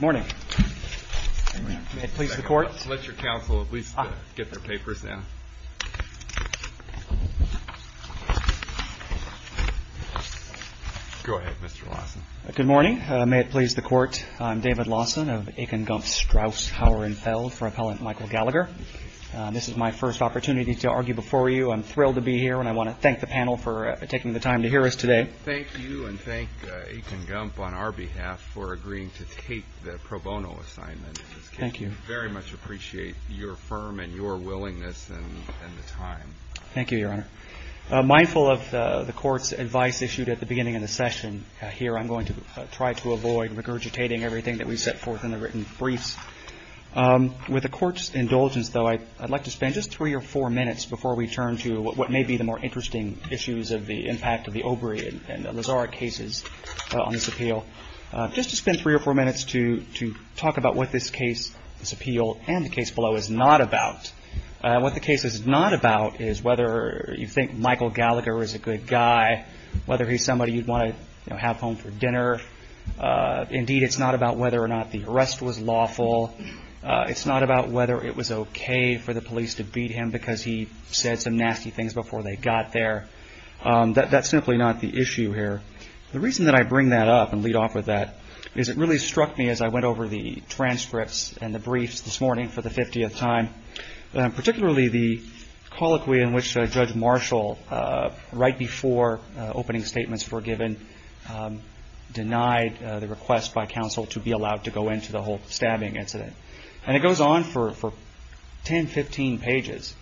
May it please the Court, I'm David Lawson of Aiken Gump Strauss Hauer & Feld for Appellant Michael Gallagher. This is my first opportunity to argue before you. I'm thrilled to be here and I want to thank the panel for taking the time to hear us today. Thank you and thank Aiken Gump on our behalf for agreeing to take the pro bono assignment. Thank you. We very much appreciate your firm and your willingness and the time. Thank you, Your Honor. Mindful of the Court's advice issued at the beginning of the session, here I'm going to try to avoid regurgitating everything that we set forth in the written briefs. With the Court's indulgence, though, I'd like to spend just three or four minutes before we turn to what may be the more interesting issues of the impact of the Obrey and Lazaruk cases on this appeal. Just to spend three or four minutes to talk about what this case, this appeal, and the case below is not about. What the case is not about is whether you think Michael Gallagher is a good guy, whether he's somebody you'd want to have home for dinner. Indeed, it's not about whether or not the arrest was lawful. It's not about whether it was okay for the police to beat him because he said some nasty things before they got there. That's simply not the issue here. The reason that I bring that up and lead off with that is it really struck me as I went over the transcripts and the briefs this morning for the 50th time, particularly the colloquy in which Judge Marshall, right before opening statements were given, denied the request by counsel to be allowed to go into the whole stabbing incident. It goes on for 10, 15 pages.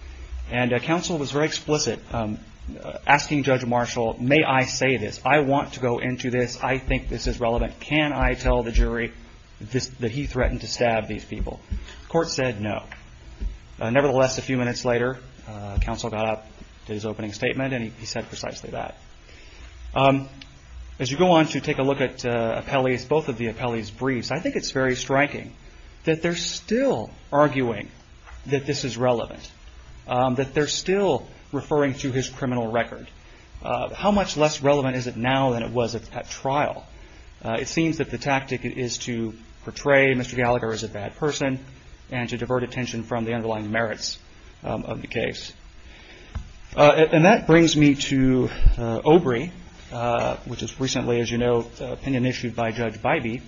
Counsel was very explicit, asking Judge Marshall, May I say this? I want to go into this. I think this is relevant. Can I tell the jury that he threatened to stab these people? The court said no. Nevertheless, a few minutes later, counsel got up, did his opening statement, and he said precisely that. As you go on to take a look at both of the appellees' briefs, I think it's very striking that they're still arguing that this is relevant, that they're still referring to his criminal record. How much less relevant is it now than it was at trial? It seems that the tactic is to portray Mr. Gallagher as a bad person and to divert attention from the underlying merits of the case. And that brings me to OBRI, which is recently, as you know, an opinion issued by Judge Bybee.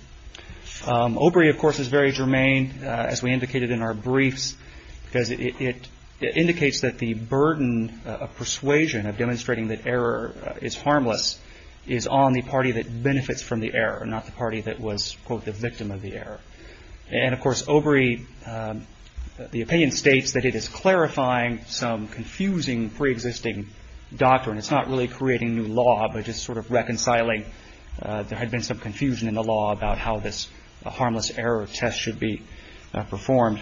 OBRI, of course, is very germane, as we indicated in our briefs, because it indicates that the burden of persuasion, of demonstrating that error is harmless, is on the party that benefits from the error, not the party that was, quote, the victim of the error. And, of course, OBRI, the opinion states that it is clarifying some confusing preexisting doctrine. It's not really creating new law, but just sort of reconciling. There had been some confusion in the law about how this harmless error test should be performed.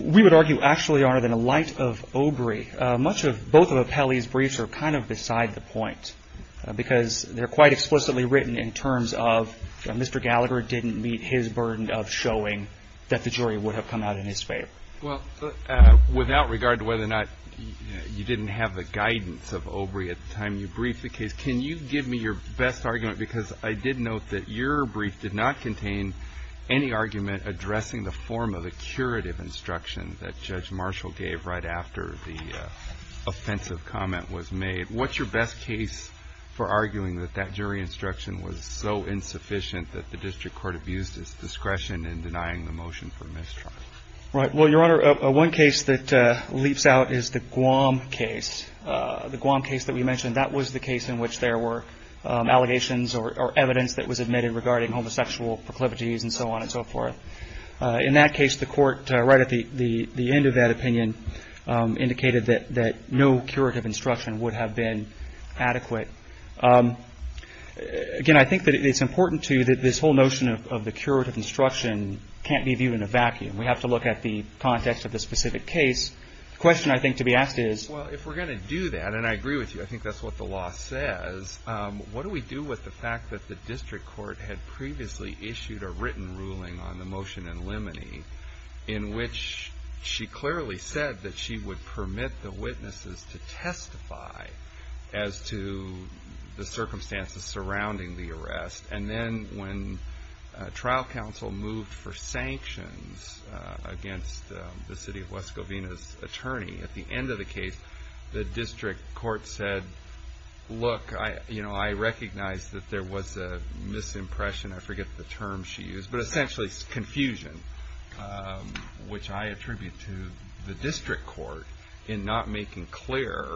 We would argue, actually, Your Honor, that in light of OBRI, much of both of Apelli's briefs are kind of beside the point, because they're quite explicitly written in terms of Mr. Gallagher didn't meet his burden of showing that the jury would have come out in his favor. Well, without regard to whether or not you didn't have the guidance of OBRI at the time you briefed the case, can you give me your best argument? Because I did note that your brief did not contain any argument addressing the form of a curative instruction that Judge Marshall gave right after the offensive comment was made. What's your best case for arguing that that jury instruction was so insufficient that the district court abused its discretion in denying the motion for mistrial? Right. Well, Your Honor, one case that leaps out is the Guam case. The Guam case that we mentioned, that was the case in which there were allegations or evidence that was admitted regarding homosexual proclivities and so on and so forth. In that case, the court, right at the end of that opinion, indicated that no curative instruction would have been adequate. Again, I think that it's important, too, that this whole notion of the curative instruction can't be viewed in a vacuum. We have to look at the context of the specific case. The question, I think, to be asked is Well, if we're going to do that, and I agree with you, I think that's what the law says, what do we do with the fact that the district court had previously issued a written ruling on the motion in limine in which she clearly said that she would permit the witnesses to testify as to the circumstances surrounding the arrest, and then when trial counsel moved for sanctions against the city of West Covina's attorney, at the end of the case, the district court said, Look, I recognize that there was a misimpression, I forget the term she used, but essentially confusion, which I attribute to the district court in not making clear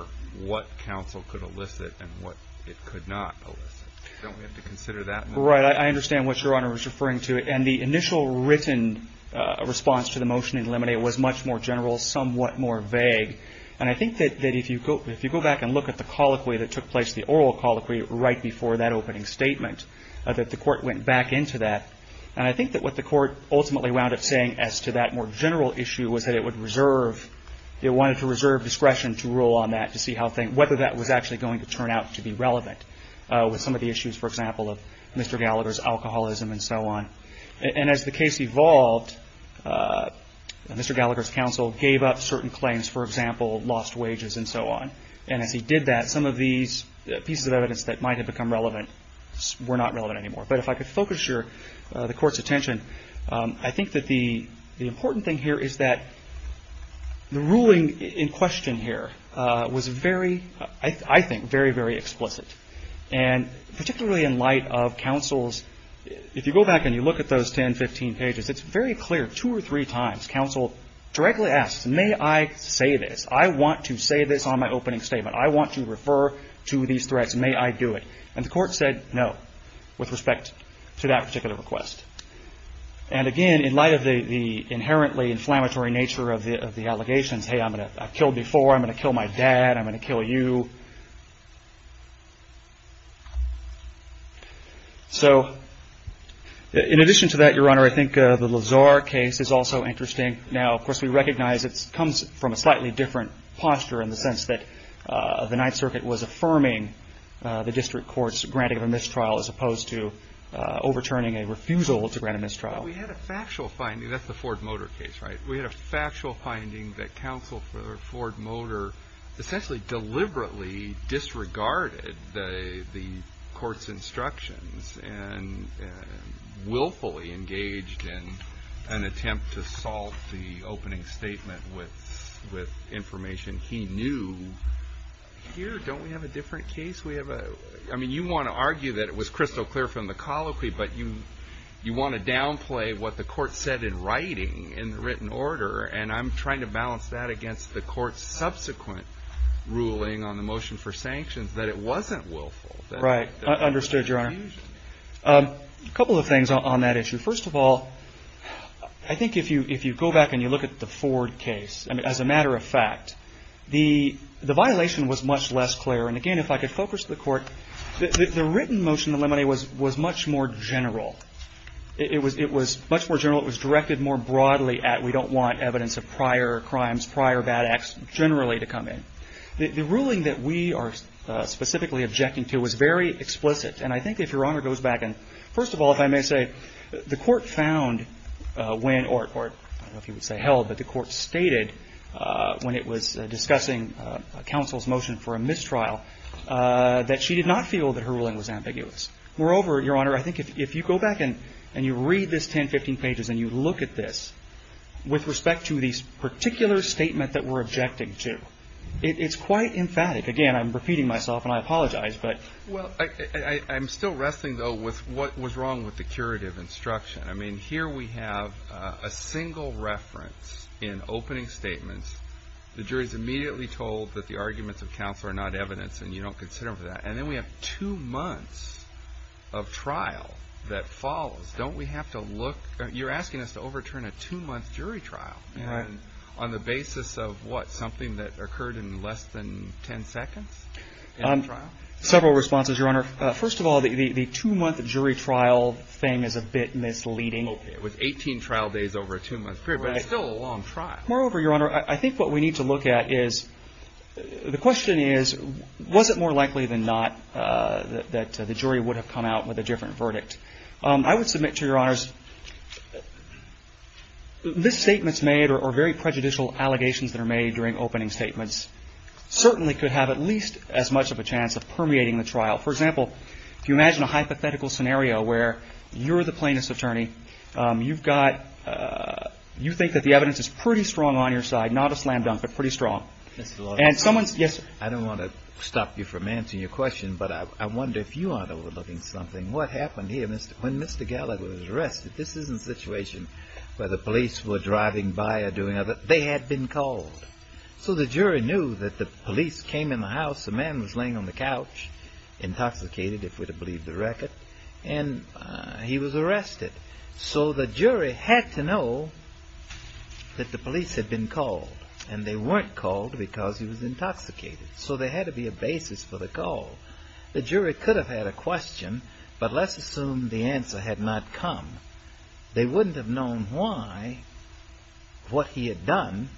what counsel could elicit and what it could not elicit. Don't we have to consider that? Right. I understand what Your Honor is referring to. And the initial written response to the motion in limine was much more general, somewhat more vague. And I think that if you go back and look at the colloquy that took place, the oral colloquy right before that opening statement, that the court went back into that. And I think that what the court ultimately wound up saying as to that more general issue was that it would reserve, it wanted to reserve discretion to rule on that, whether that was actually going to turn out to be relevant with some of the issues, for example, of Mr. Gallagher's alcoholism and so on. And as the case evolved, Mr. Gallagher's counsel gave up certain claims, for example, lost wages and so on. And as he did that, some of these pieces of evidence that might have become relevant were not relevant anymore. But if I could focus the Court's attention, I think that the important thing here is that the ruling in question here was very, I think, very, very explicit. And particularly in light of counsel's, if you go back and you look at those 10, 15 pages, it's very clear two or three times counsel directly asks, may I say this? I want to say this on my opening statement. I want to refer to these threats. May I do it? And the Court said no with respect to that particular request. And again, in light of the inherently inflammatory nature of the allegations, hey, I've killed before, I'm going to kill my dad, I'm going to kill you. So in addition to that, Your Honor, I think the Lazar case is also interesting. Now, of course, we recognize it comes from a slightly different posture in the sense that the Ninth Circuit was affirming the District Court's granting of a mistrial as opposed to overturning a refusal to grant a mistrial. But we had a factual finding. That's the Ford Motor case, right? We had a factual finding that counsel for Ford Motor essentially deliberately disregarded the Court's instructions and willfully engaged in an attempt to salt the opening statement with information he knew. Here, don't we have a different case? I mean, you want to argue that it was crystal clear from the colloquy, but you want to downplay what the Court said in writing, in written order, and I'm trying to balance that against the Court's subsequent ruling on the motion for sanctions, that it wasn't willful. Right. Understood, Your Honor. A couple of things on that issue. First of all, I think if you go back and you look at the Ford case, as a matter of fact, the violation was much less clear. And, again, if I could focus the Court, the written motion of limine was much more general. It was much more general. It was directed more broadly at we don't want evidence of prior crimes, prior bad acts generally to come in. The ruling that we are specifically objecting to was very explicit. And I think if Your Honor goes back and, first of all, if I may say, the Court found when, or I don't know if you would say held, but the Court stated when it was discussing counsel's motion for a mistrial that she did not feel that her ruling was ambiguous. Moreover, Your Honor, I think if you go back and you read this 10, 15 pages and you look at this, with respect to this particular statement that we're objecting to, it's quite emphatic. Again, I'm repeating myself and I apologize, but. Well, I'm still wrestling, though, with what was wrong with the curative instruction. I mean, here we have a single reference in opening statements. The jury is immediately told that the arguments of counsel are not evidence and you don't consider them for that. And then we have two months of trial that follows. Don't we have to look? You're asking us to overturn a two-month jury trial on the basis of what, something that occurred in less than 10 seconds in the trial? Several responses, Your Honor. First of all, the two-month jury trial thing is a bit misleading. Okay. It was 18 trial days over a two-month period, but it's still a long trial. Moreover, Your Honor, I think what we need to look at is, the question is, was it more likely than not that the jury would have come out with a different verdict? I would submit to Your Honors, this statement's made, or very prejudicial allegations that are made during opening statements, For example, if you imagine a hypothetical scenario where you're the plaintiff's attorney, you've got, you think that the evidence is pretty strong on your side, not a slam dunk, but pretty strong. And someone's, yes? I don't want to stop you from answering your question, but I wonder if you aren't overlooking something. What happened here when Mr. Gallagher was arrested? This isn't a situation where the police were driving by or doing other, they had been called. So the jury knew that the police came in the house, the man was laying on the couch, intoxicated, if we'd have believed the record, and he was arrested. So the jury had to know that the police had been called. And they weren't called because he was intoxicated. So there had to be a basis for the call. The jury could have had a question, but let's assume the answer had not come. They wouldn't have known why, what he had done,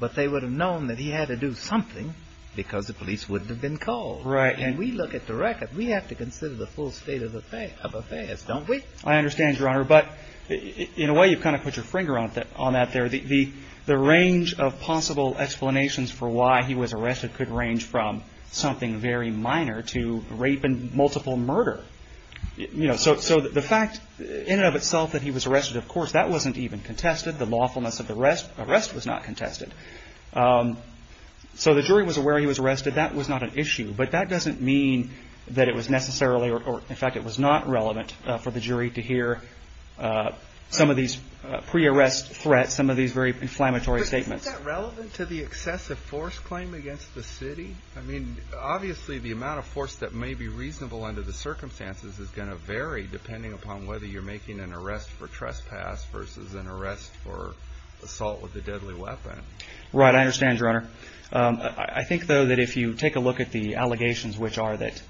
but they would have known that he had to do something because the police wouldn't have been called. Right. And we look at the record, we have to consider the full state of affairs, don't we? I understand, Your Honor, but in a way you've kind of put your finger on that there. The range of possible explanations for why he was arrested could range from something very minor to rape and multiple murder. So the fact in and of itself that he was arrested, of course, that wasn't even contested. The lawfulness of the arrest was not contested. So the jury was aware he was arrested. That was not an issue. But that doesn't mean that it was necessarily, or in fact it was not relevant for the jury to hear some of these pre-arrest threats, some of these very inflammatory statements. But is that relevant to the excessive force claim against the city? I mean, obviously, the amount of force that may be reasonable under the circumstances is going to vary depending upon whether you're making an arrest for trespass versus an arrest for assault with a deadly weapon. Right. I understand, Your Honor. I think, though, that if you take a look at the allegations, which are that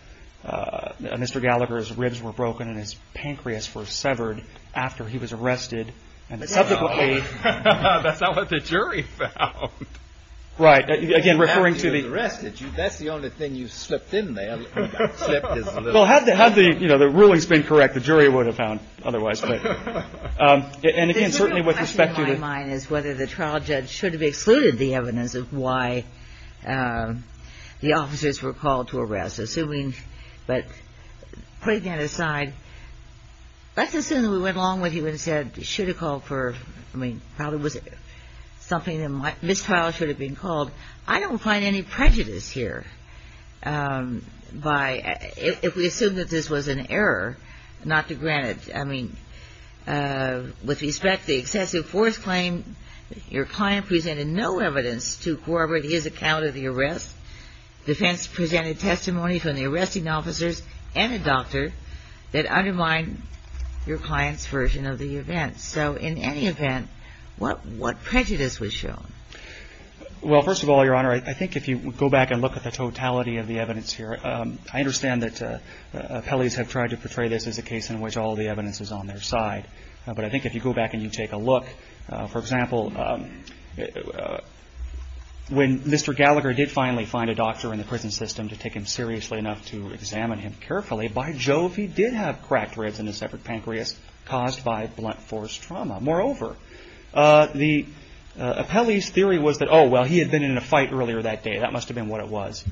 Mr. Gallagher's ribs were broken and his pancreas was severed after he was arrested and subsequently. That's not what the jury found. Right. Again, referring to the. That's the only thing you slipped in there. Well, had the rulings been correct, the jury would have found otherwise. And again, certainly with respect to. The question in my mind is whether the trial judge should have excluded the evidence of why the officers were called to arrest. Assuming, but putting that aside, let's assume that we went along with you and said, I don't find any prejudice here by if we assume that this was an error, not to grant it. I mean, with respect to the excessive force claim, your client presented no evidence to corroborate his account of the arrest. Defense presented testimony from the arresting officers and a doctor that undermined your client's version of the event. So in any event, what what prejudice was shown? Well, first of all, Your Honor, I think if you go back and look at the totality of the evidence here, I understand that appellees have tried to portray this as a case in which all the evidence is on their side. But I think if you go back and you take a look, for example, when Mr. Gallagher did finally find a doctor in the prison system to take him seriously enough to examine him carefully, by Jove, he did have cracked ribs and a separate pancreas caused by blunt force trauma. Moreover, the appellee's theory was that, oh, well, he had been in a fight earlier that day. That must have been what it was.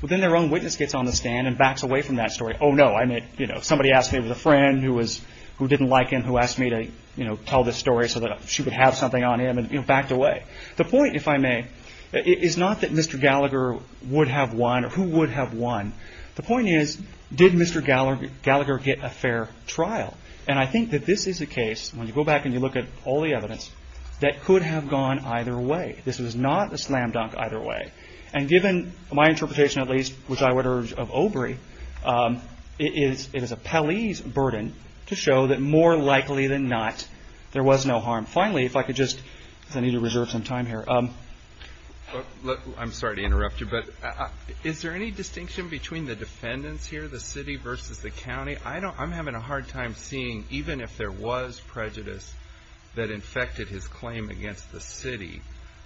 Well, then their own witness gets on the stand and backs away from that story. Oh, no, I mean, you know, somebody asked me with a friend who was who didn't like him, who asked me to, you know, tell the story so that she would have something on him and backed away. The point, if I may, is not that Mr. Gallagher would have won or who would have won. The point is, did Mr. Gallagher get a fair trial? And I think that this is a case, when you go back and you look at all the evidence, that could have gone either way. This was not a slam dunk either way. And given my interpretation, at least, which I would urge of Obrey, it is appellee's burden to show that more likely than not, there was no harm. Finally, if I could just, because I need to reserve some time here. I'm sorry to interrupt you, but is there any distinction between the defendants here, the city versus the county? I'm having a hard time seeing, even if there was prejudice that infected his claim against the city,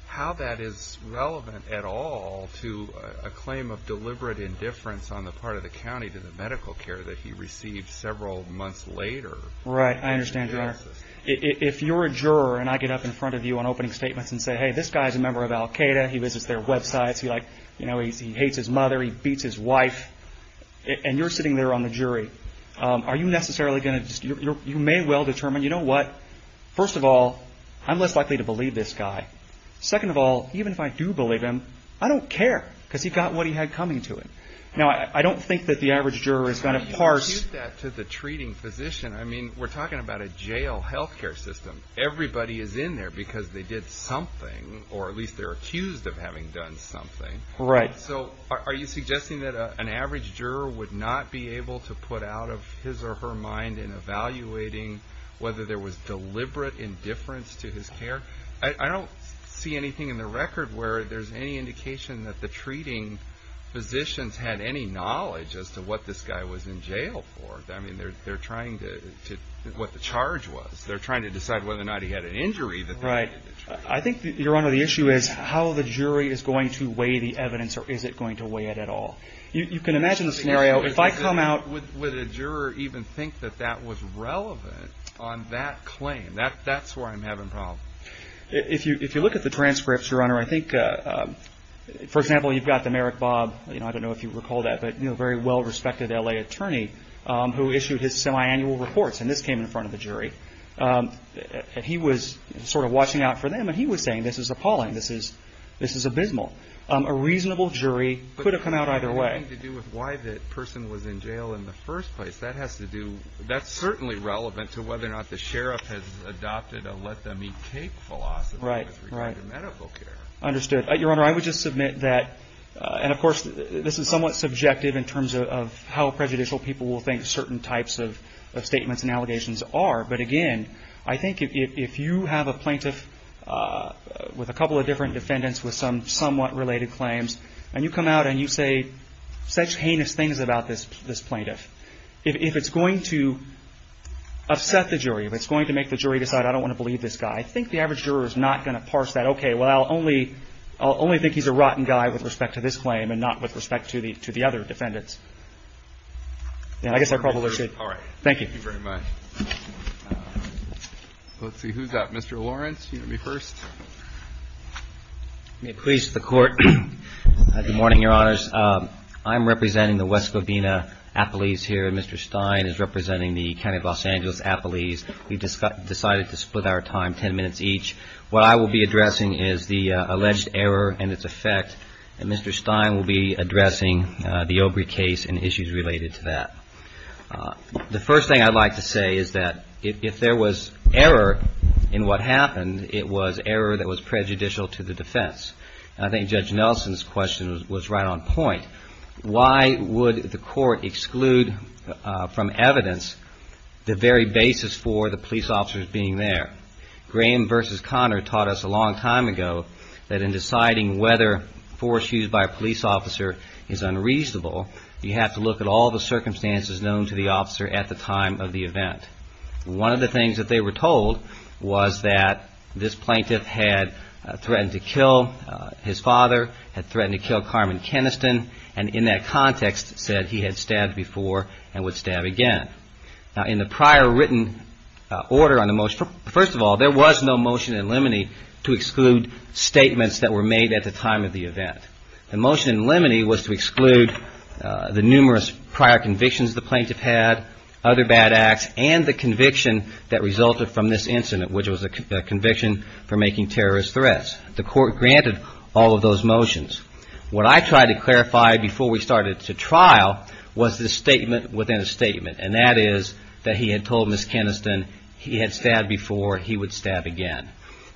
how that is relevant at all to a claim of deliberate indifference on the part of the county to the medical care that he received several months later. If you're a juror and I get up in front of you on opening statements and say, hey, this guy's a member of Al-Qaeda, he visits their websites, he hates his mother, he beats his wife, and you're sitting there on the jury, are you necessarily going to, you may well determine, you know what, first of all, I'm less likely to believe this guy. Second of all, even if I do believe him, I don't care, because he got what he had coming to him. Now, I don't think that the average juror is going to parse. To the treating physician, I mean, we're talking about a jail health care system. Everybody is in there because they did something, or at least they're accused of having done something. Right. So are you suggesting that an average juror would not be able to put out of his or her mind in evaluating whether there was deliberate indifference to his care? I don't see anything in the record where there's any indication that the treating physicians had any knowledge as to what this guy was in jail for. I mean, they're trying to, what the charge was, they're trying to decide whether or not he had an injury that they had to treat. Right. I think, Your Honor, the issue is how the jury is going to weigh the evidence, or is it going to weigh it at all. You can imagine the scenario, if I come out. Would a juror even think that that was relevant on that claim? That's where I'm having problems. If you look at the transcripts, Your Honor, I think, for example, you've got the Merrick Bob, I don't know if you recall that, but a very well-respected L.A. attorney who issued his semiannual reports, and this came in front of the jury. He was sort of watching out for them, and he was saying, this is appalling, this is abysmal. A reasonable jury could have come out either way. But it had nothing to do with why the person was in jail in the first place. That has to do, that's certainly relevant to whether or not the sheriff has adopted a let them eat cake philosophy with regard to medical care. Right, right. Understood. Your Honor, I would just submit that, and of course, this is somewhat subjective in terms of how prejudicial people will think certain types of statements and allegations are. But again, I think if you have a plaintiff with a couple of different defendants with some somewhat related claims, and you come out and you say such heinous things about this plaintiff, if it's going to upset the jury, if it's going to make the jury decide, I don't want to believe this guy, I think the average juror is not going to parse that, okay, well, I'll only think he's a rotten guy with respect to this claim and not with respect to the other defendants. And I guess I probably should. All right. Thank you. Thank you very much. Let's see, who's up? Mr. Lawrence, you want to be first? May it please the Court. Good morning, Your Honors. I'm representing the West Covina appellees here, and Mr. Stein is representing the County of Los Angeles appellees. We decided to split our time ten minutes each. What I will be addressing is the alleged error and its effect, and Mr. Stein will be addressing the Obrey case and issues related to that. The first thing I'd like to say is that if there was error in what happened, it was error that was prejudicial to the defense. I think Judge Nelson's question was right on point. Why would the Court exclude from evidence the very basis for the police officers being there? Graham versus Connor taught us a long time ago that in deciding whether force used by a police officer is unreasonable, you have to look at all the circumstances known to the officer at the time of the event. One of the things that they were told was that this plaintiff had threatened to kill his father, had threatened to kill Carmen Keniston, and in that context said he had stabbed before and would stab again. Now, in the prior written order on the motion, first of all, there was no motion in limine to exclude statements that were made at the time of the event. The motion in limine was to exclude the numerous prior convictions the plaintiff had, other bad acts, and the conviction that resulted from this incident, which was a conviction for making terrorist threats. The Court granted all of those motions. What I tried to clarify before we started to trial was the statement within a statement, and that is that he had told Ms. Keniston he had stabbed before, he would stab again.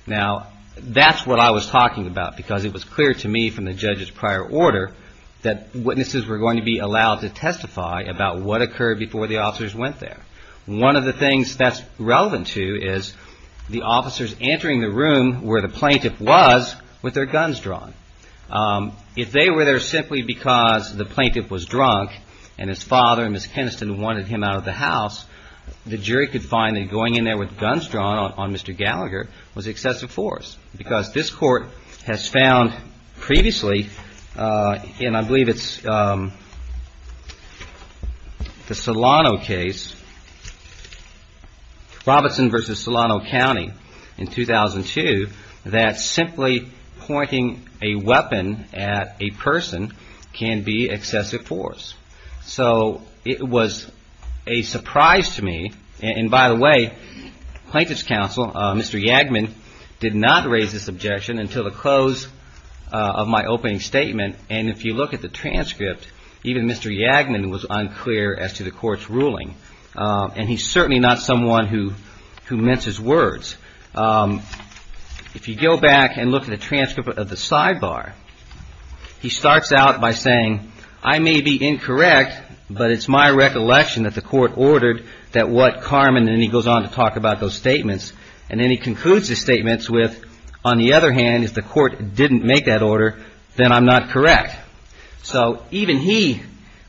Now, that's what I was talking about because it was clear to me from the judge's prior order that witnesses were going to be allowed to testify about what occurred before the officers went there. One of the things that's relevant to is the officers entering the room where the plaintiff was with their guns drawn. If they were there simply because the plaintiff was drunk and his father and Ms. Keniston wanted him out of the house, the jury could find that going in there with guns drawn on Mr. Gallagher was excessive force because this Court has found previously, and I believe it's the Solano case, Robertson v. Solano County in 2002, that simply pointing a weapon at a person can be excessive force. So it was a surprise to me, and by the way, Plaintiff's Counsel, Mr. Yagman, did not raise this objection until the close of my opening statement, and if you look at the transcript, even Mr. Yagman was unclear as to the Court's ruling, and he's certainly not someone who minces words. If you go back and look at the transcript of the sidebar, he starts out by saying, I may be incorrect, but it's my recollection that the Court ordered that what Carmen, and then he goes on to talk about those statements, and then he concludes his statements with, on the other hand, if the Court didn't make that order, then I'm not correct. So even he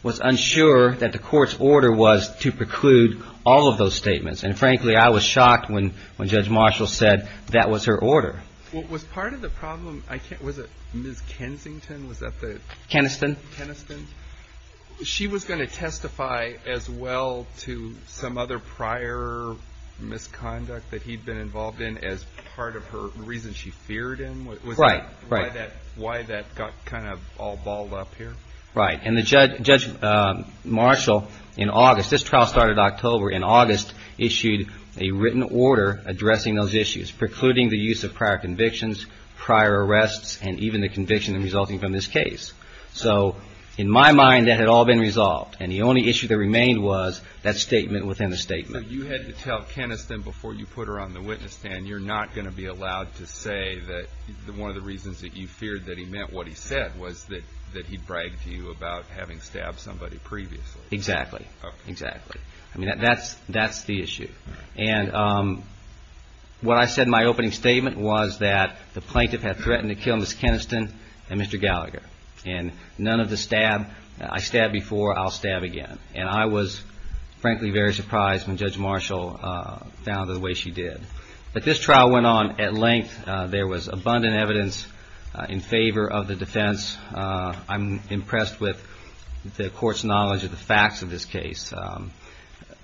was unsure that the Court's order was to preclude all of those statements, and frankly, I was shocked when Judge Marshall said that was her order. Was part of the problem, was it Ms. Kensington? Keniston. Keniston. She was going to testify as well to some other prior misconduct that he'd been involved in as part of the reason she feared him? Right. Why that got kind of all balled up here? Right, and Judge Marshall, in August, this trial started October, in August issued a written order addressing those issues, precluding the use of prior convictions, prior arrests, and even the conviction resulting from this case. So in my mind, that had all been resolved, and the only issue that remained was that statement within the statement. So you had to tell Keniston before you put her on the witness stand, you're not going to be allowed to say that one of the reasons that you feared that he meant what he said was that he bragged to you about having stabbed somebody previously? Exactly. Exactly. I mean, that's the issue. And what I said in my opening statement was that the plaintiff had threatened to kill Ms. Keniston and Mr. Gallagher, and none of the stab, I stab before, I'll stab again. And I was, frankly, very surprised when Judge Marshall found it the way she did. But this trial went on at length. There was abundant evidence in favor of the defense. I'm impressed with the court's knowledge of the facts of this case.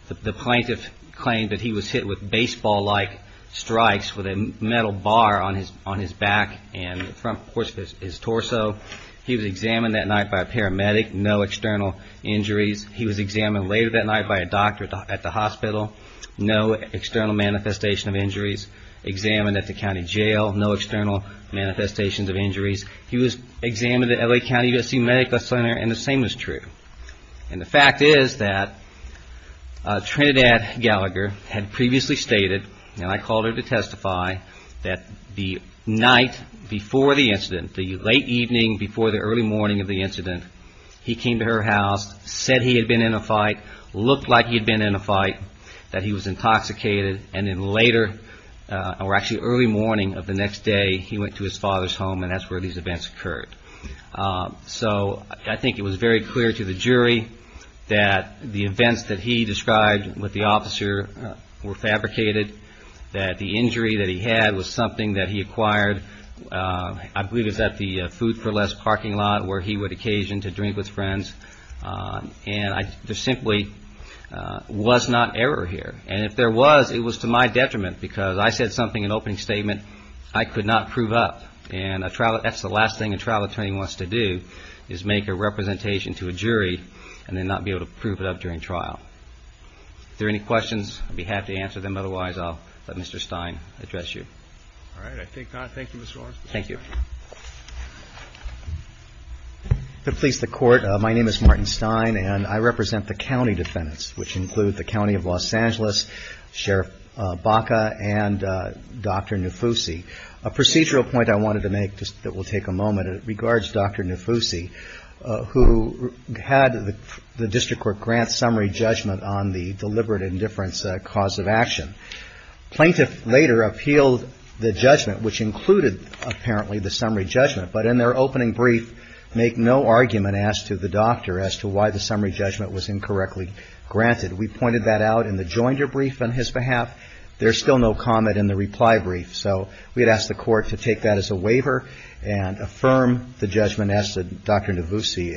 The plaintiff claimed that he was hit with baseball-like strikes with a metal bar on his back and, of course, his torso. He was examined that night by a paramedic, no external injuries. He was examined later that night by a doctor at the hospital, no external manifestation of injuries. Examined at the county jail, no external manifestations of injuries. He was examined at L.A. County USC Medical Center, and the same was true. And the fact is that Trinidad Gallagher had previously stated, and I called her to testify, that the night before the incident, the late evening before the early morning of the incident, he came to her house, said he had been in a fight, looked like he had been in a fight, that he was intoxicated, and then later, or actually early morning of the next day, he went to his father's home, and that's where these events occurred. So I think it was very clear to the jury that the events that he described with the officer were fabricated, that the injury that he had was something that he acquired, I believe it was at the Food for Less parking lot where he would occasion to drink with friends, and there simply was not error here. And if there was, it was to my detriment because I said something in opening statement I could not prove up, and that's the last thing a trial attorney wants to do is make a representation to a jury and then not be able to prove it up during trial. If there are any questions, I'll be happy to answer them. Otherwise, I'll let Mr. Stein address you. All right, I think not. Thank you, Mr. Warren. Thank you. To please the Court, my name is Martin Stein, and I represent the county defendants, which include the County of Los Angeles, Sheriff Baca, and Dr. Nufusi. A procedural point I wanted to make that will take a moment regards Dr. Nufusi, who had the district court grant summary judgment on the deliberate indifference cause of action. Plaintiff later appealed the judgment, which included apparently the summary judgment, but in their opening brief make no argument as to the doctor as to why the summary judgment was incorrectly granted. We pointed that out in the joinder brief on his behalf. There's still no comment in the reply brief. So we had asked the Court to take that as a waiver and affirm the judgment as to Dr. Nufusi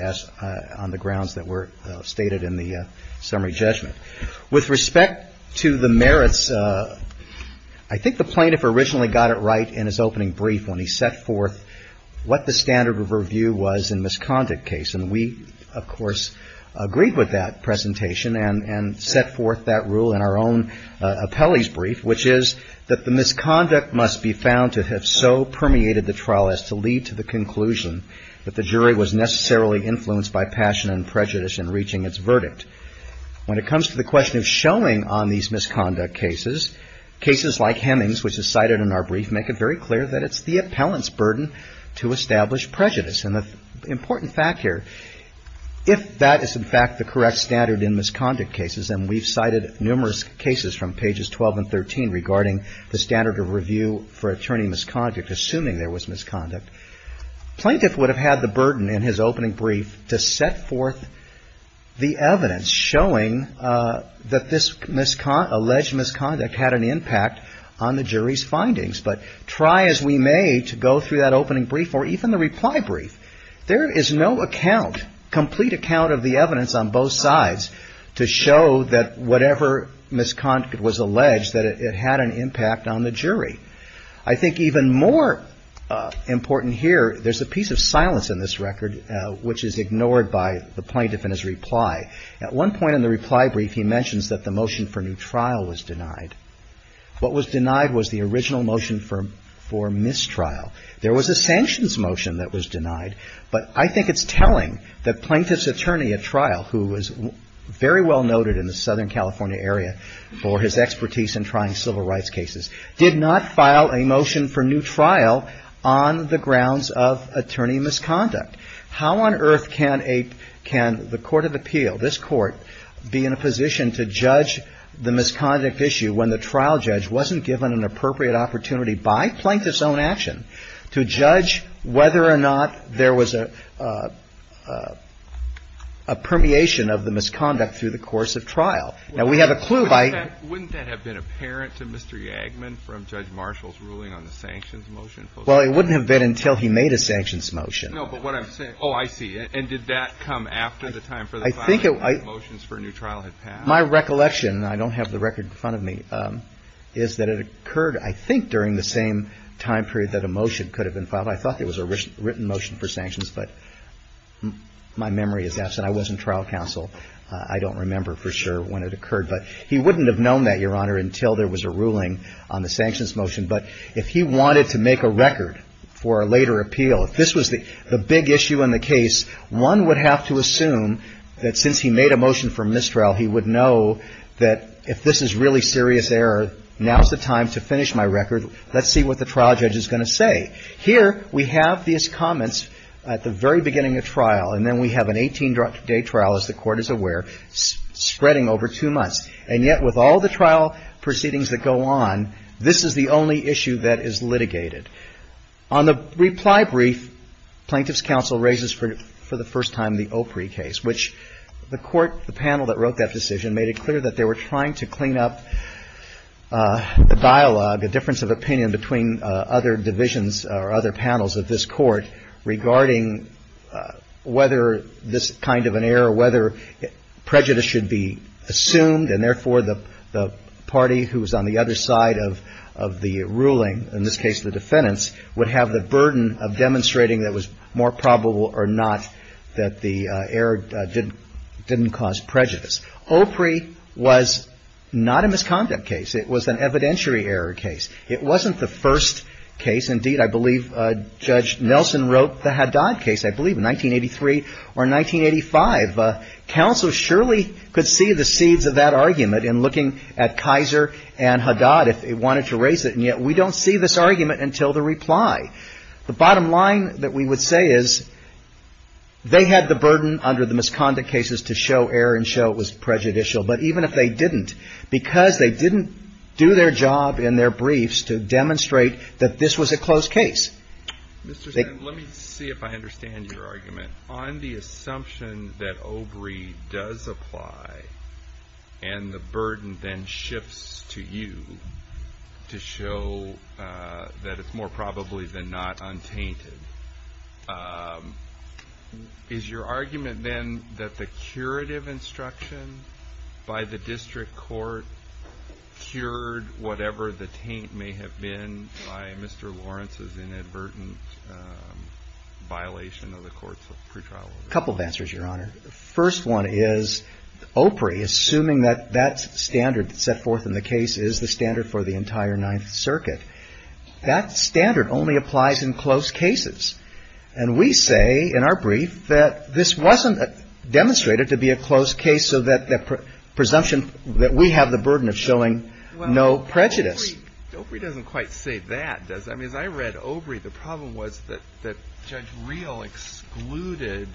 on the grounds that were stated in the summary judgment. With respect to the merits, I think the plaintiff originally got it right in his opening brief when he set forth what the standard of review was in misconduct case. And we, of course, agreed with that presentation and set forth that rule in our own appellee's brief, which is that the misconduct must be found to have so permeated the trial as to lead to the conclusion that the jury was necessarily influenced by passion and prejudice in reaching its verdict. When it comes to the question of showing on these misconduct cases, cases like Hemings, which is cited in our brief, make it very clear that it's the appellant's burden to establish prejudice. And the important fact here, if that is in fact the correct standard in misconduct cases, and we've cited numerous cases from pages 12 and 13 regarding the standard of review for attorney misconduct, assuming there was misconduct, plaintiff would have had the burden in his opening brief to set forth the evidence showing that this alleged misconduct had an impact on the jury's findings. But try as we may to go through that opening brief or even the reply brief, there is no account, complete account of the evidence on both sides to show that whatever misconduct was alleged, that it had an impact on the jury. I think even more important here, there's a piece of silence in this record which is ignored by the plaintiff in his reply. At one point in the reply brief, he mentions that the motion for new trial was denied. What was denied was the original motion for mistrial. There was a sanctions motion that was denied, but I think it's telling that plaintiff's attorney at trial, who was very well noted in the Southern California area for his expertise in trying civil rights cases, did not file a motion for new trial on the grounds of attorney misconduct. How on earth can a – can the court of appeal, this Court, be in a position to judge the misconduct issue when the trial judge wasn't given an appropriate opportunity by plaintiff's own action to judge whether or not there was a permeation of the misconduct through the course of trial? Now, we have a clue by – Well, it wouldn't have been until he made a sanctions motion. No, but what I'm saying – oh, I see. And did that come after the time for the filing of motions for a new trial had passed? I think it – my recollection, and I don't have the record in front of me, is that it occurred, I think, during the same time period that a motion could have been filed. I thought it was a written motion for sanctions, but my memory is absent. I was in trial counsel. I don't remember for sure when it occurred, but he wouldn't have known that, Your Honor, until there was a ruling on the sanctions motion. But if he wanted to make a record for a later appeal, if this was the big issue in the case, one would have to assume that since he made a motion for mistrial, he would know that if this is really serious error, now's the time to finish my record. Let's see what the trial judge is going to say. Here, we have these comments at the very beginning of trial, and then we have an 18-day trial, as the Court is aware, spreading over two months. And yet, with all the trial proceedings that go on, this is the only issue that is litigated. On the reply brief, Plaintiff's counsel raises for the first time the Opry case, which the Court, the panel that wrote that decision, made it clear that they were trying to clean up the dialogue, the difference of opinion between other divisions or other panels of this Court, regarding whether this kind of an error, or whether prejudice should be assumed, and therefore the party who is on the other side of the ruling, in this case the defendants, would have the burden of demonstrating that it was more probable or not that the error didn't cause prejudice. Opry was not a misconduct case. It was an evidentiary error case. It wasn't the first case. Indeed, I believe Judge Nelson wrote the Haddad case, I believe, in 1983 or 1985. Counsel surely could see the seeds of that argument in looking at Kaiser and Haddad, if they wanted to raise it, and yet we don't see this argument until the reply. The bottom line that we would say is they had the burden under the misconduct cases to show error and show it was prejudicial, but even if they didn't, because they didn't do their job in their briefs to demonstrate that this was a close case. Mr. Stanton, let me see if I understand your argument. On the assumption that Opry does apply and the burden then shifts to you to show that it's more probably than not untainted, is your argument then that the curative instruction by the district court cured whatever the taint may have been by Mr. Lawrence's inadvertent violation of the courts of pretrial order? A couple of answers, Your Honor. The first one is Opry, assuming that that standard set forth in the case is the standard for the entire Ninth Circuit, that standard only applies in close cases. And we say in our brief that this wasn't demonstrated to be a close case, so that the presumption that we have the burden of showing no prejudice. Opry doesn't quite say that, does it? I mean, as I read Opry, the problem was that Judge Reel excluded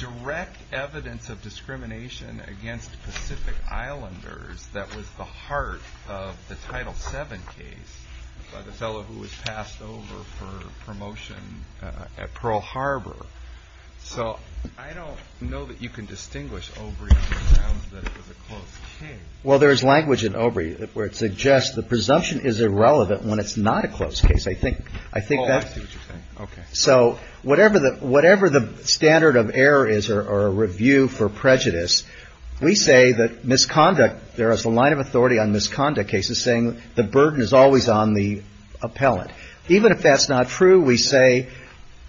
direct evidence of discrimination against Pacific Islanders that was the heart of the Title VII case by the fellow who was passed over for promotion at Pearl Harbor. So I don't know that you can distinguish Opry from the grounds that it was a close case. Well, there is language in Opry where it suggests the presumption is irrelevant when it's not a close case. I think that's what you're saying. Okay. So whatever the standard of error is or review for prejudice, we say that misconduct, there is a line of authority on misconduct cases saying the burden is always on the appellant. Even if that's not true, we say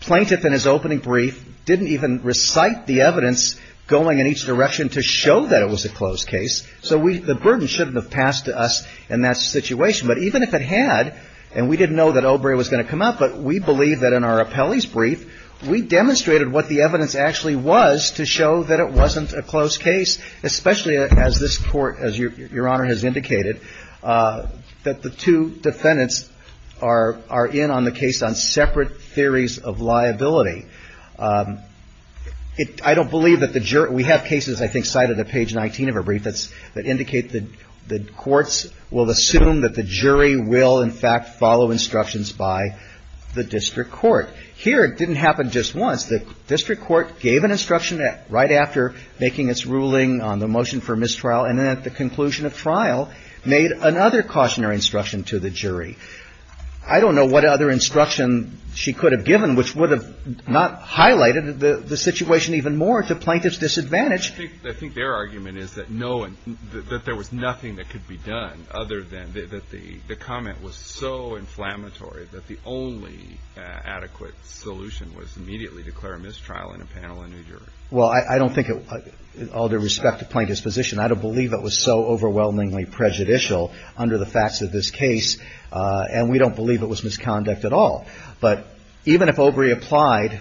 plaintiff in his opening brief didn't even recite the evidence going in each direction to show that it was a close case. So the burden shouldn't have passed to us in that situation. But even if it had, and we didn't know that Opry was going to come up, but we believe that in our appellee's brief, we demonstrated what the evidence actually was to show that it wasn't a close case, especially as this Court, as Your Honor has indicated, that the two defendants are in on the case on separate theories of liability. I don't believe that the jury – we have cases, I think, cited at page 19 of her brief that indicate that the courts will assume that the jury will, in fact, follow instructions by the district court. Here it didn't happen just once. The district court gave an instruction right after making its ruling on the motion for mistrial, and then at the conclusion of trial made another cautionary instruction to the jury. I don't know what other instruction she could have given, which would have not highlighted the situation even more to plaintiff's disadvantage. I think their argument is that no – that there was nothing that could be done other than – that the comment was so inflammatory that the only adequate solution was immediately declare a mistrial in a panel in New York. Well, I don't think it – all due respect to plaintiff's position, I don't believe it was so overwhelmingly prejudicial under the facts of this case and we don't believe it was misconduct at all. But even if Obrey applied,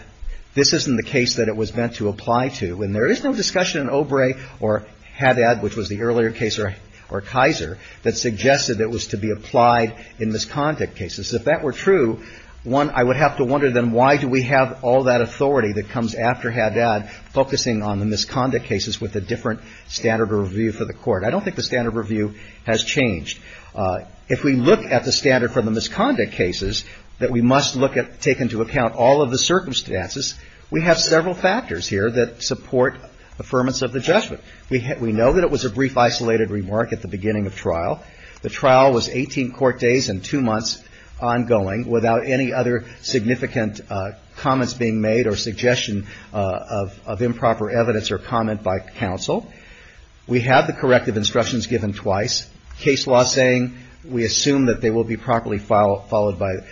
this isn't the case that it was meant to apply to. And there is no discussion in Obrey or Haddad, which was the earlier case, or Keiser that suggested it was to be applied in misconduct cases. If that were true, one, I would have to wonder then why do we have all that authority that comes after Haddad focusing on the misconduct cases with a different standard of review for the court. I don't think the standard of review has changed. If we look at the standard for the misconduct cases that we must look at – take into account all of the circumstances, we have several factors here that support affirmance of the judgment. We know that it was a brief isolated remark at the beginning of trial. The trial was 18 court days and two months ongoing without any other significant comments being made or suggestion of improper evidence or comment by counsel. We have the corrective instructions given twice. Case law saying we assume that they will be properly followed by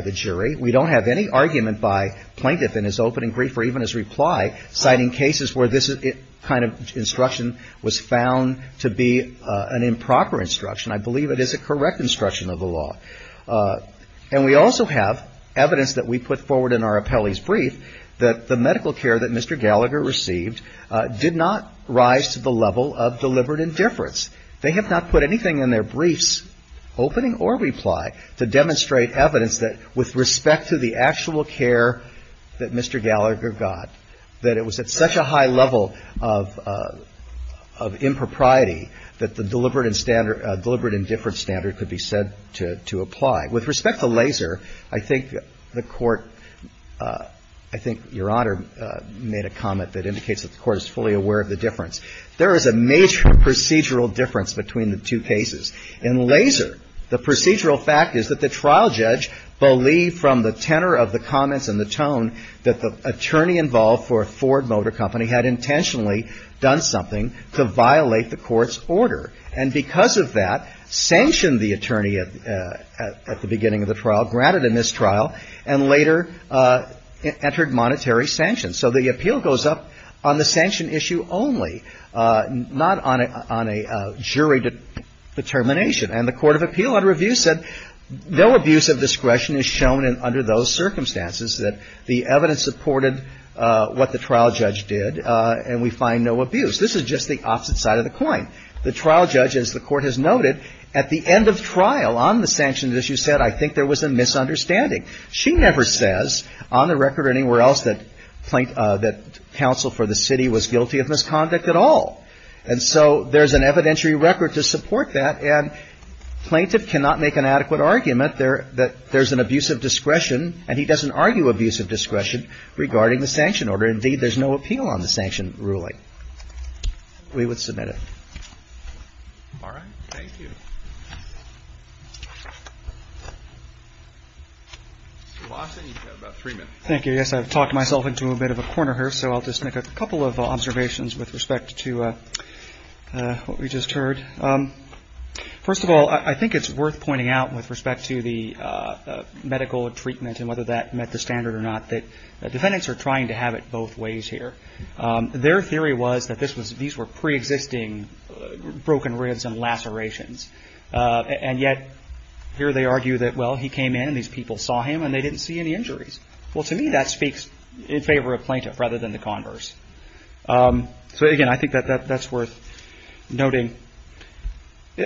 the jury. We don't have any argument by plaintiff in his opening brief or even his reply citing cases where this kind of instruction was found to be an improper instruction. I believe it is a correct instruction of the law. And we also have evidence that we put forward in our appellee's brief that the medical care that Mr. Gallagher received did not rise to the level of deliberate indifference. They have not put anything in their briefs, opening or reply, to demonstrate evidence that with respect to the actual care that Mr. Gallagher got, that it was at such a high level of impropriety that the deliberate and standard – deliberate indifference standard could be said to apply. With respect to LASER, I think the Court – I think Your Honor made a comment that indicates that the Court is fully aware of the difference. There is a major procedural difference between the two cases. In LASER, the procedural fact is that the trial judge believed from the tenor of the comments and the tone that the attorney involved for Ford Motor Company had intentionally done something to violate the Court's order. And because of that, sanctioned the attorney at the beginning of the trial, granted a mistrial, and later entered monetary sanctions. So the appeal goes up on the sanction issue only, not on a jury determination. And the Court of Appeal under review said no abuse of discretion is shown under those circumstances, that the evidence supported what the trial judge did, and we find no abuse. This is just the opposite side of the coin. The trial judge, as the Court has noted, at the end of trial on the sanctioned issue said, I think there was a misunderstanding. She never says on the record or anywhere else that counsel for the city was guilty of misconduct at all. And so there's an evidentiary record to support that, and plaintiff cannot make an adequate argument that there's an abuse of discretion, and he doesn't argue abuse of discretion regarding the sanction order. Indeed, there's no appeal on the sanction ruling. We would submit it. All right. Thank you. Mr. Lawson, you have about three minutes. Thank you. Yes, I've talked myself into a bit of a corner here, so I'll just make a couple of observations with respect to what we just heard. First of all, I think it's worth pointing out with respect to the medical treatment and whether that met the standard or not that defendants are trying to have it both ways here. Their theory was that these were preexisting broken ribs and lacerations, and yet here they argue that, well, he came in and these people saw him and they didn't see any injuries. Well, to me, that speaks in favor of plaintiff rather than the converse. So, again, I think that that's worth noting.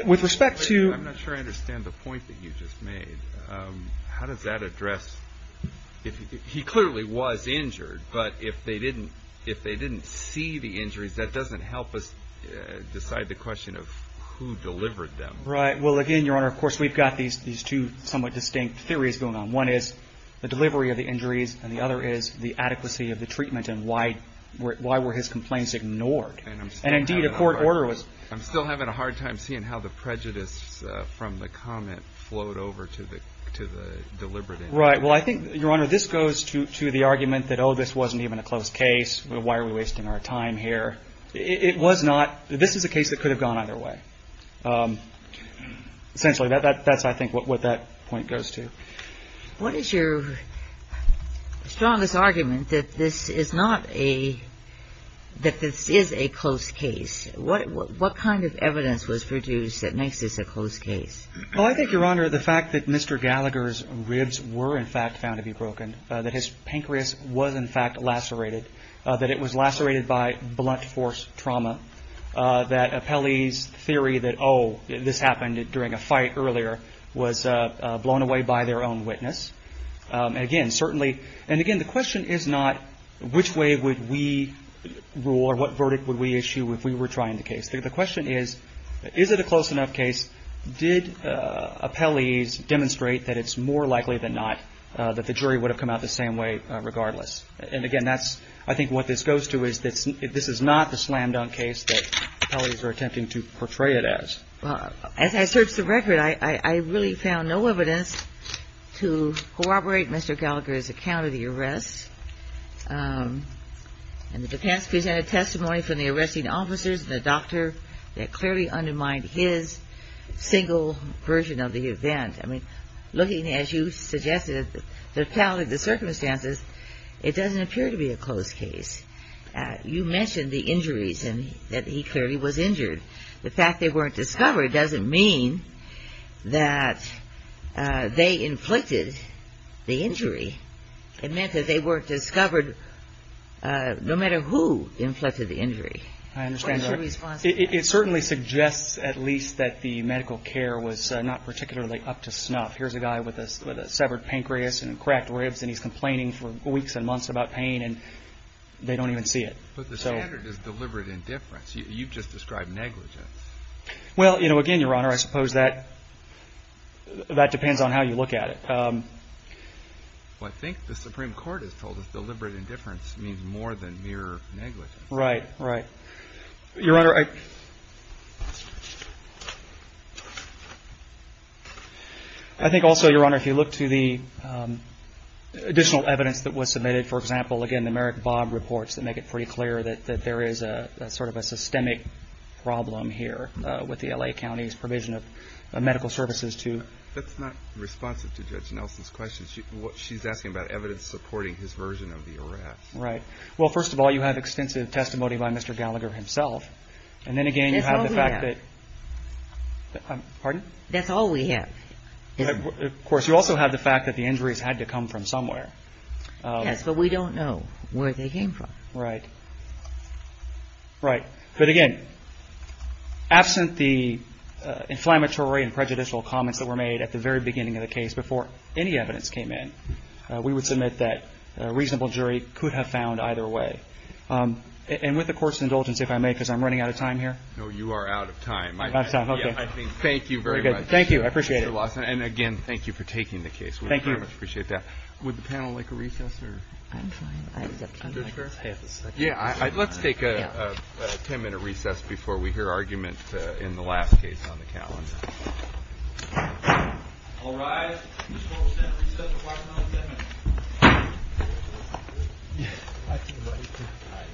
With respect to... I'm not sure I understand the point that you just made. How does that address... He clearly was injured, but if they didn't see the injuries, that doesn't help us decide the question of who delivered them. Right. Well, again, Your Honor, of course, we've got these two somewhat distinct theories going on. One is the delivery of the injuries, and the other is the adequacy of the treatment and why were his complaints ignored. And, indeed, a court order was... I'm still having a hard time seeing how the prejudice from the comment flowed over to the deliberate injury. Right. Well, I think, Your Honor, this goes to the argument that, oh, this wasn't even a close case. Why are we wasting our time here? It was not. This is a case that could have gone either way. Essentially, that's, I think, what that point goes to. What is your strongest argument that this is not a... that this is a close case? What kind of evidence was produced that makes this a close case? Well, I think, Your Honor, the fact that Mr. Gallagher's ribs were, in fact, found to be broken, that his pancreas was, in fact, lacerated, that it was lacerated by blunt force trauma, that Apelli's theory that, oh, this happened during a fight earlier was blown away by their own witness. Again, certainly... And, again, the question is not which way would we rule or what verdict would we issue if we were trying the case. The question is, is it a close enough case? Did Apelli's demonstrate that it's more likely than not that the jury would have come out the same way regardless? And, again, that's, I think, what this goes to is that this is not the slam-dunk case that Apelli's are attempting to portray it as. Well, as I searched the record, I really found no evidence to corroborate Mr. Gallagher's account of the arrest. And the defense presented testimony from the arresting officers and the doctor that clearly undermined his single version of the event. I mean, looking, as you suggested, at the totality of the circumstances, it doesn't appear to be a close case. You mentioned the injuries and that he clearly was injured. The fact they weren't discovered doesn't mean that they inflicted the injury. It meant that they weren't discovered no matter who inflicted the injury. I understand that. It certainly suggests at least that the medical care was not particularly up to snuff. Here's a guy with a severed pancreas and cracked ribs, and he's complaining for weeks and months about pain, and they don't even see it. But the standard is deliberate indifference. You've just described negligence. Well, again, Your Honor, I suppose that depends on how you look at it. Well, I think the Supreme Court has told us deliberate indifference means more than mere negligence. Right, right. Your Honor, I think also, Your Honor, if you look to the additional evidence that was submitted, for example, again, the Merrick Bobb reports that make it pretty clear that there is sort of a systemic problem here with the L.A. County's provision of medical services. That's not responsive to Judge Nelson's question. She's asking about evidence supporting his version of the arrest. Right. Well, first of all, you have extensive testimony by Mr. Gallagher himself. And then again, you have the fact that- That's all we have. Pardon? That's all we have. Of course, you also have the fact that the injuries had to come from somewhere. Yes, but we don't know where they came from. Right. Right. But again, absent the inflammatory and prejudicial comments that were made at the very beginning of the case before any evidence came in, we would submit that a reasonable jury could have found either way. And with the Court's indulgence, if I may, because I'm running out of time here- No, you are out of time. Out of time. Okay. Thank you very much. Thank you. I appreciate it. Mr. Lawson, and again, thank you for taking the case. Thank you. We very much appreciate that. Would the panel like a recess or- I'm fine. Let's take a ten-minute recess before we hear argument in the last case on the calendar. All rise. This court will stand for recess for five minutes and ten minutes.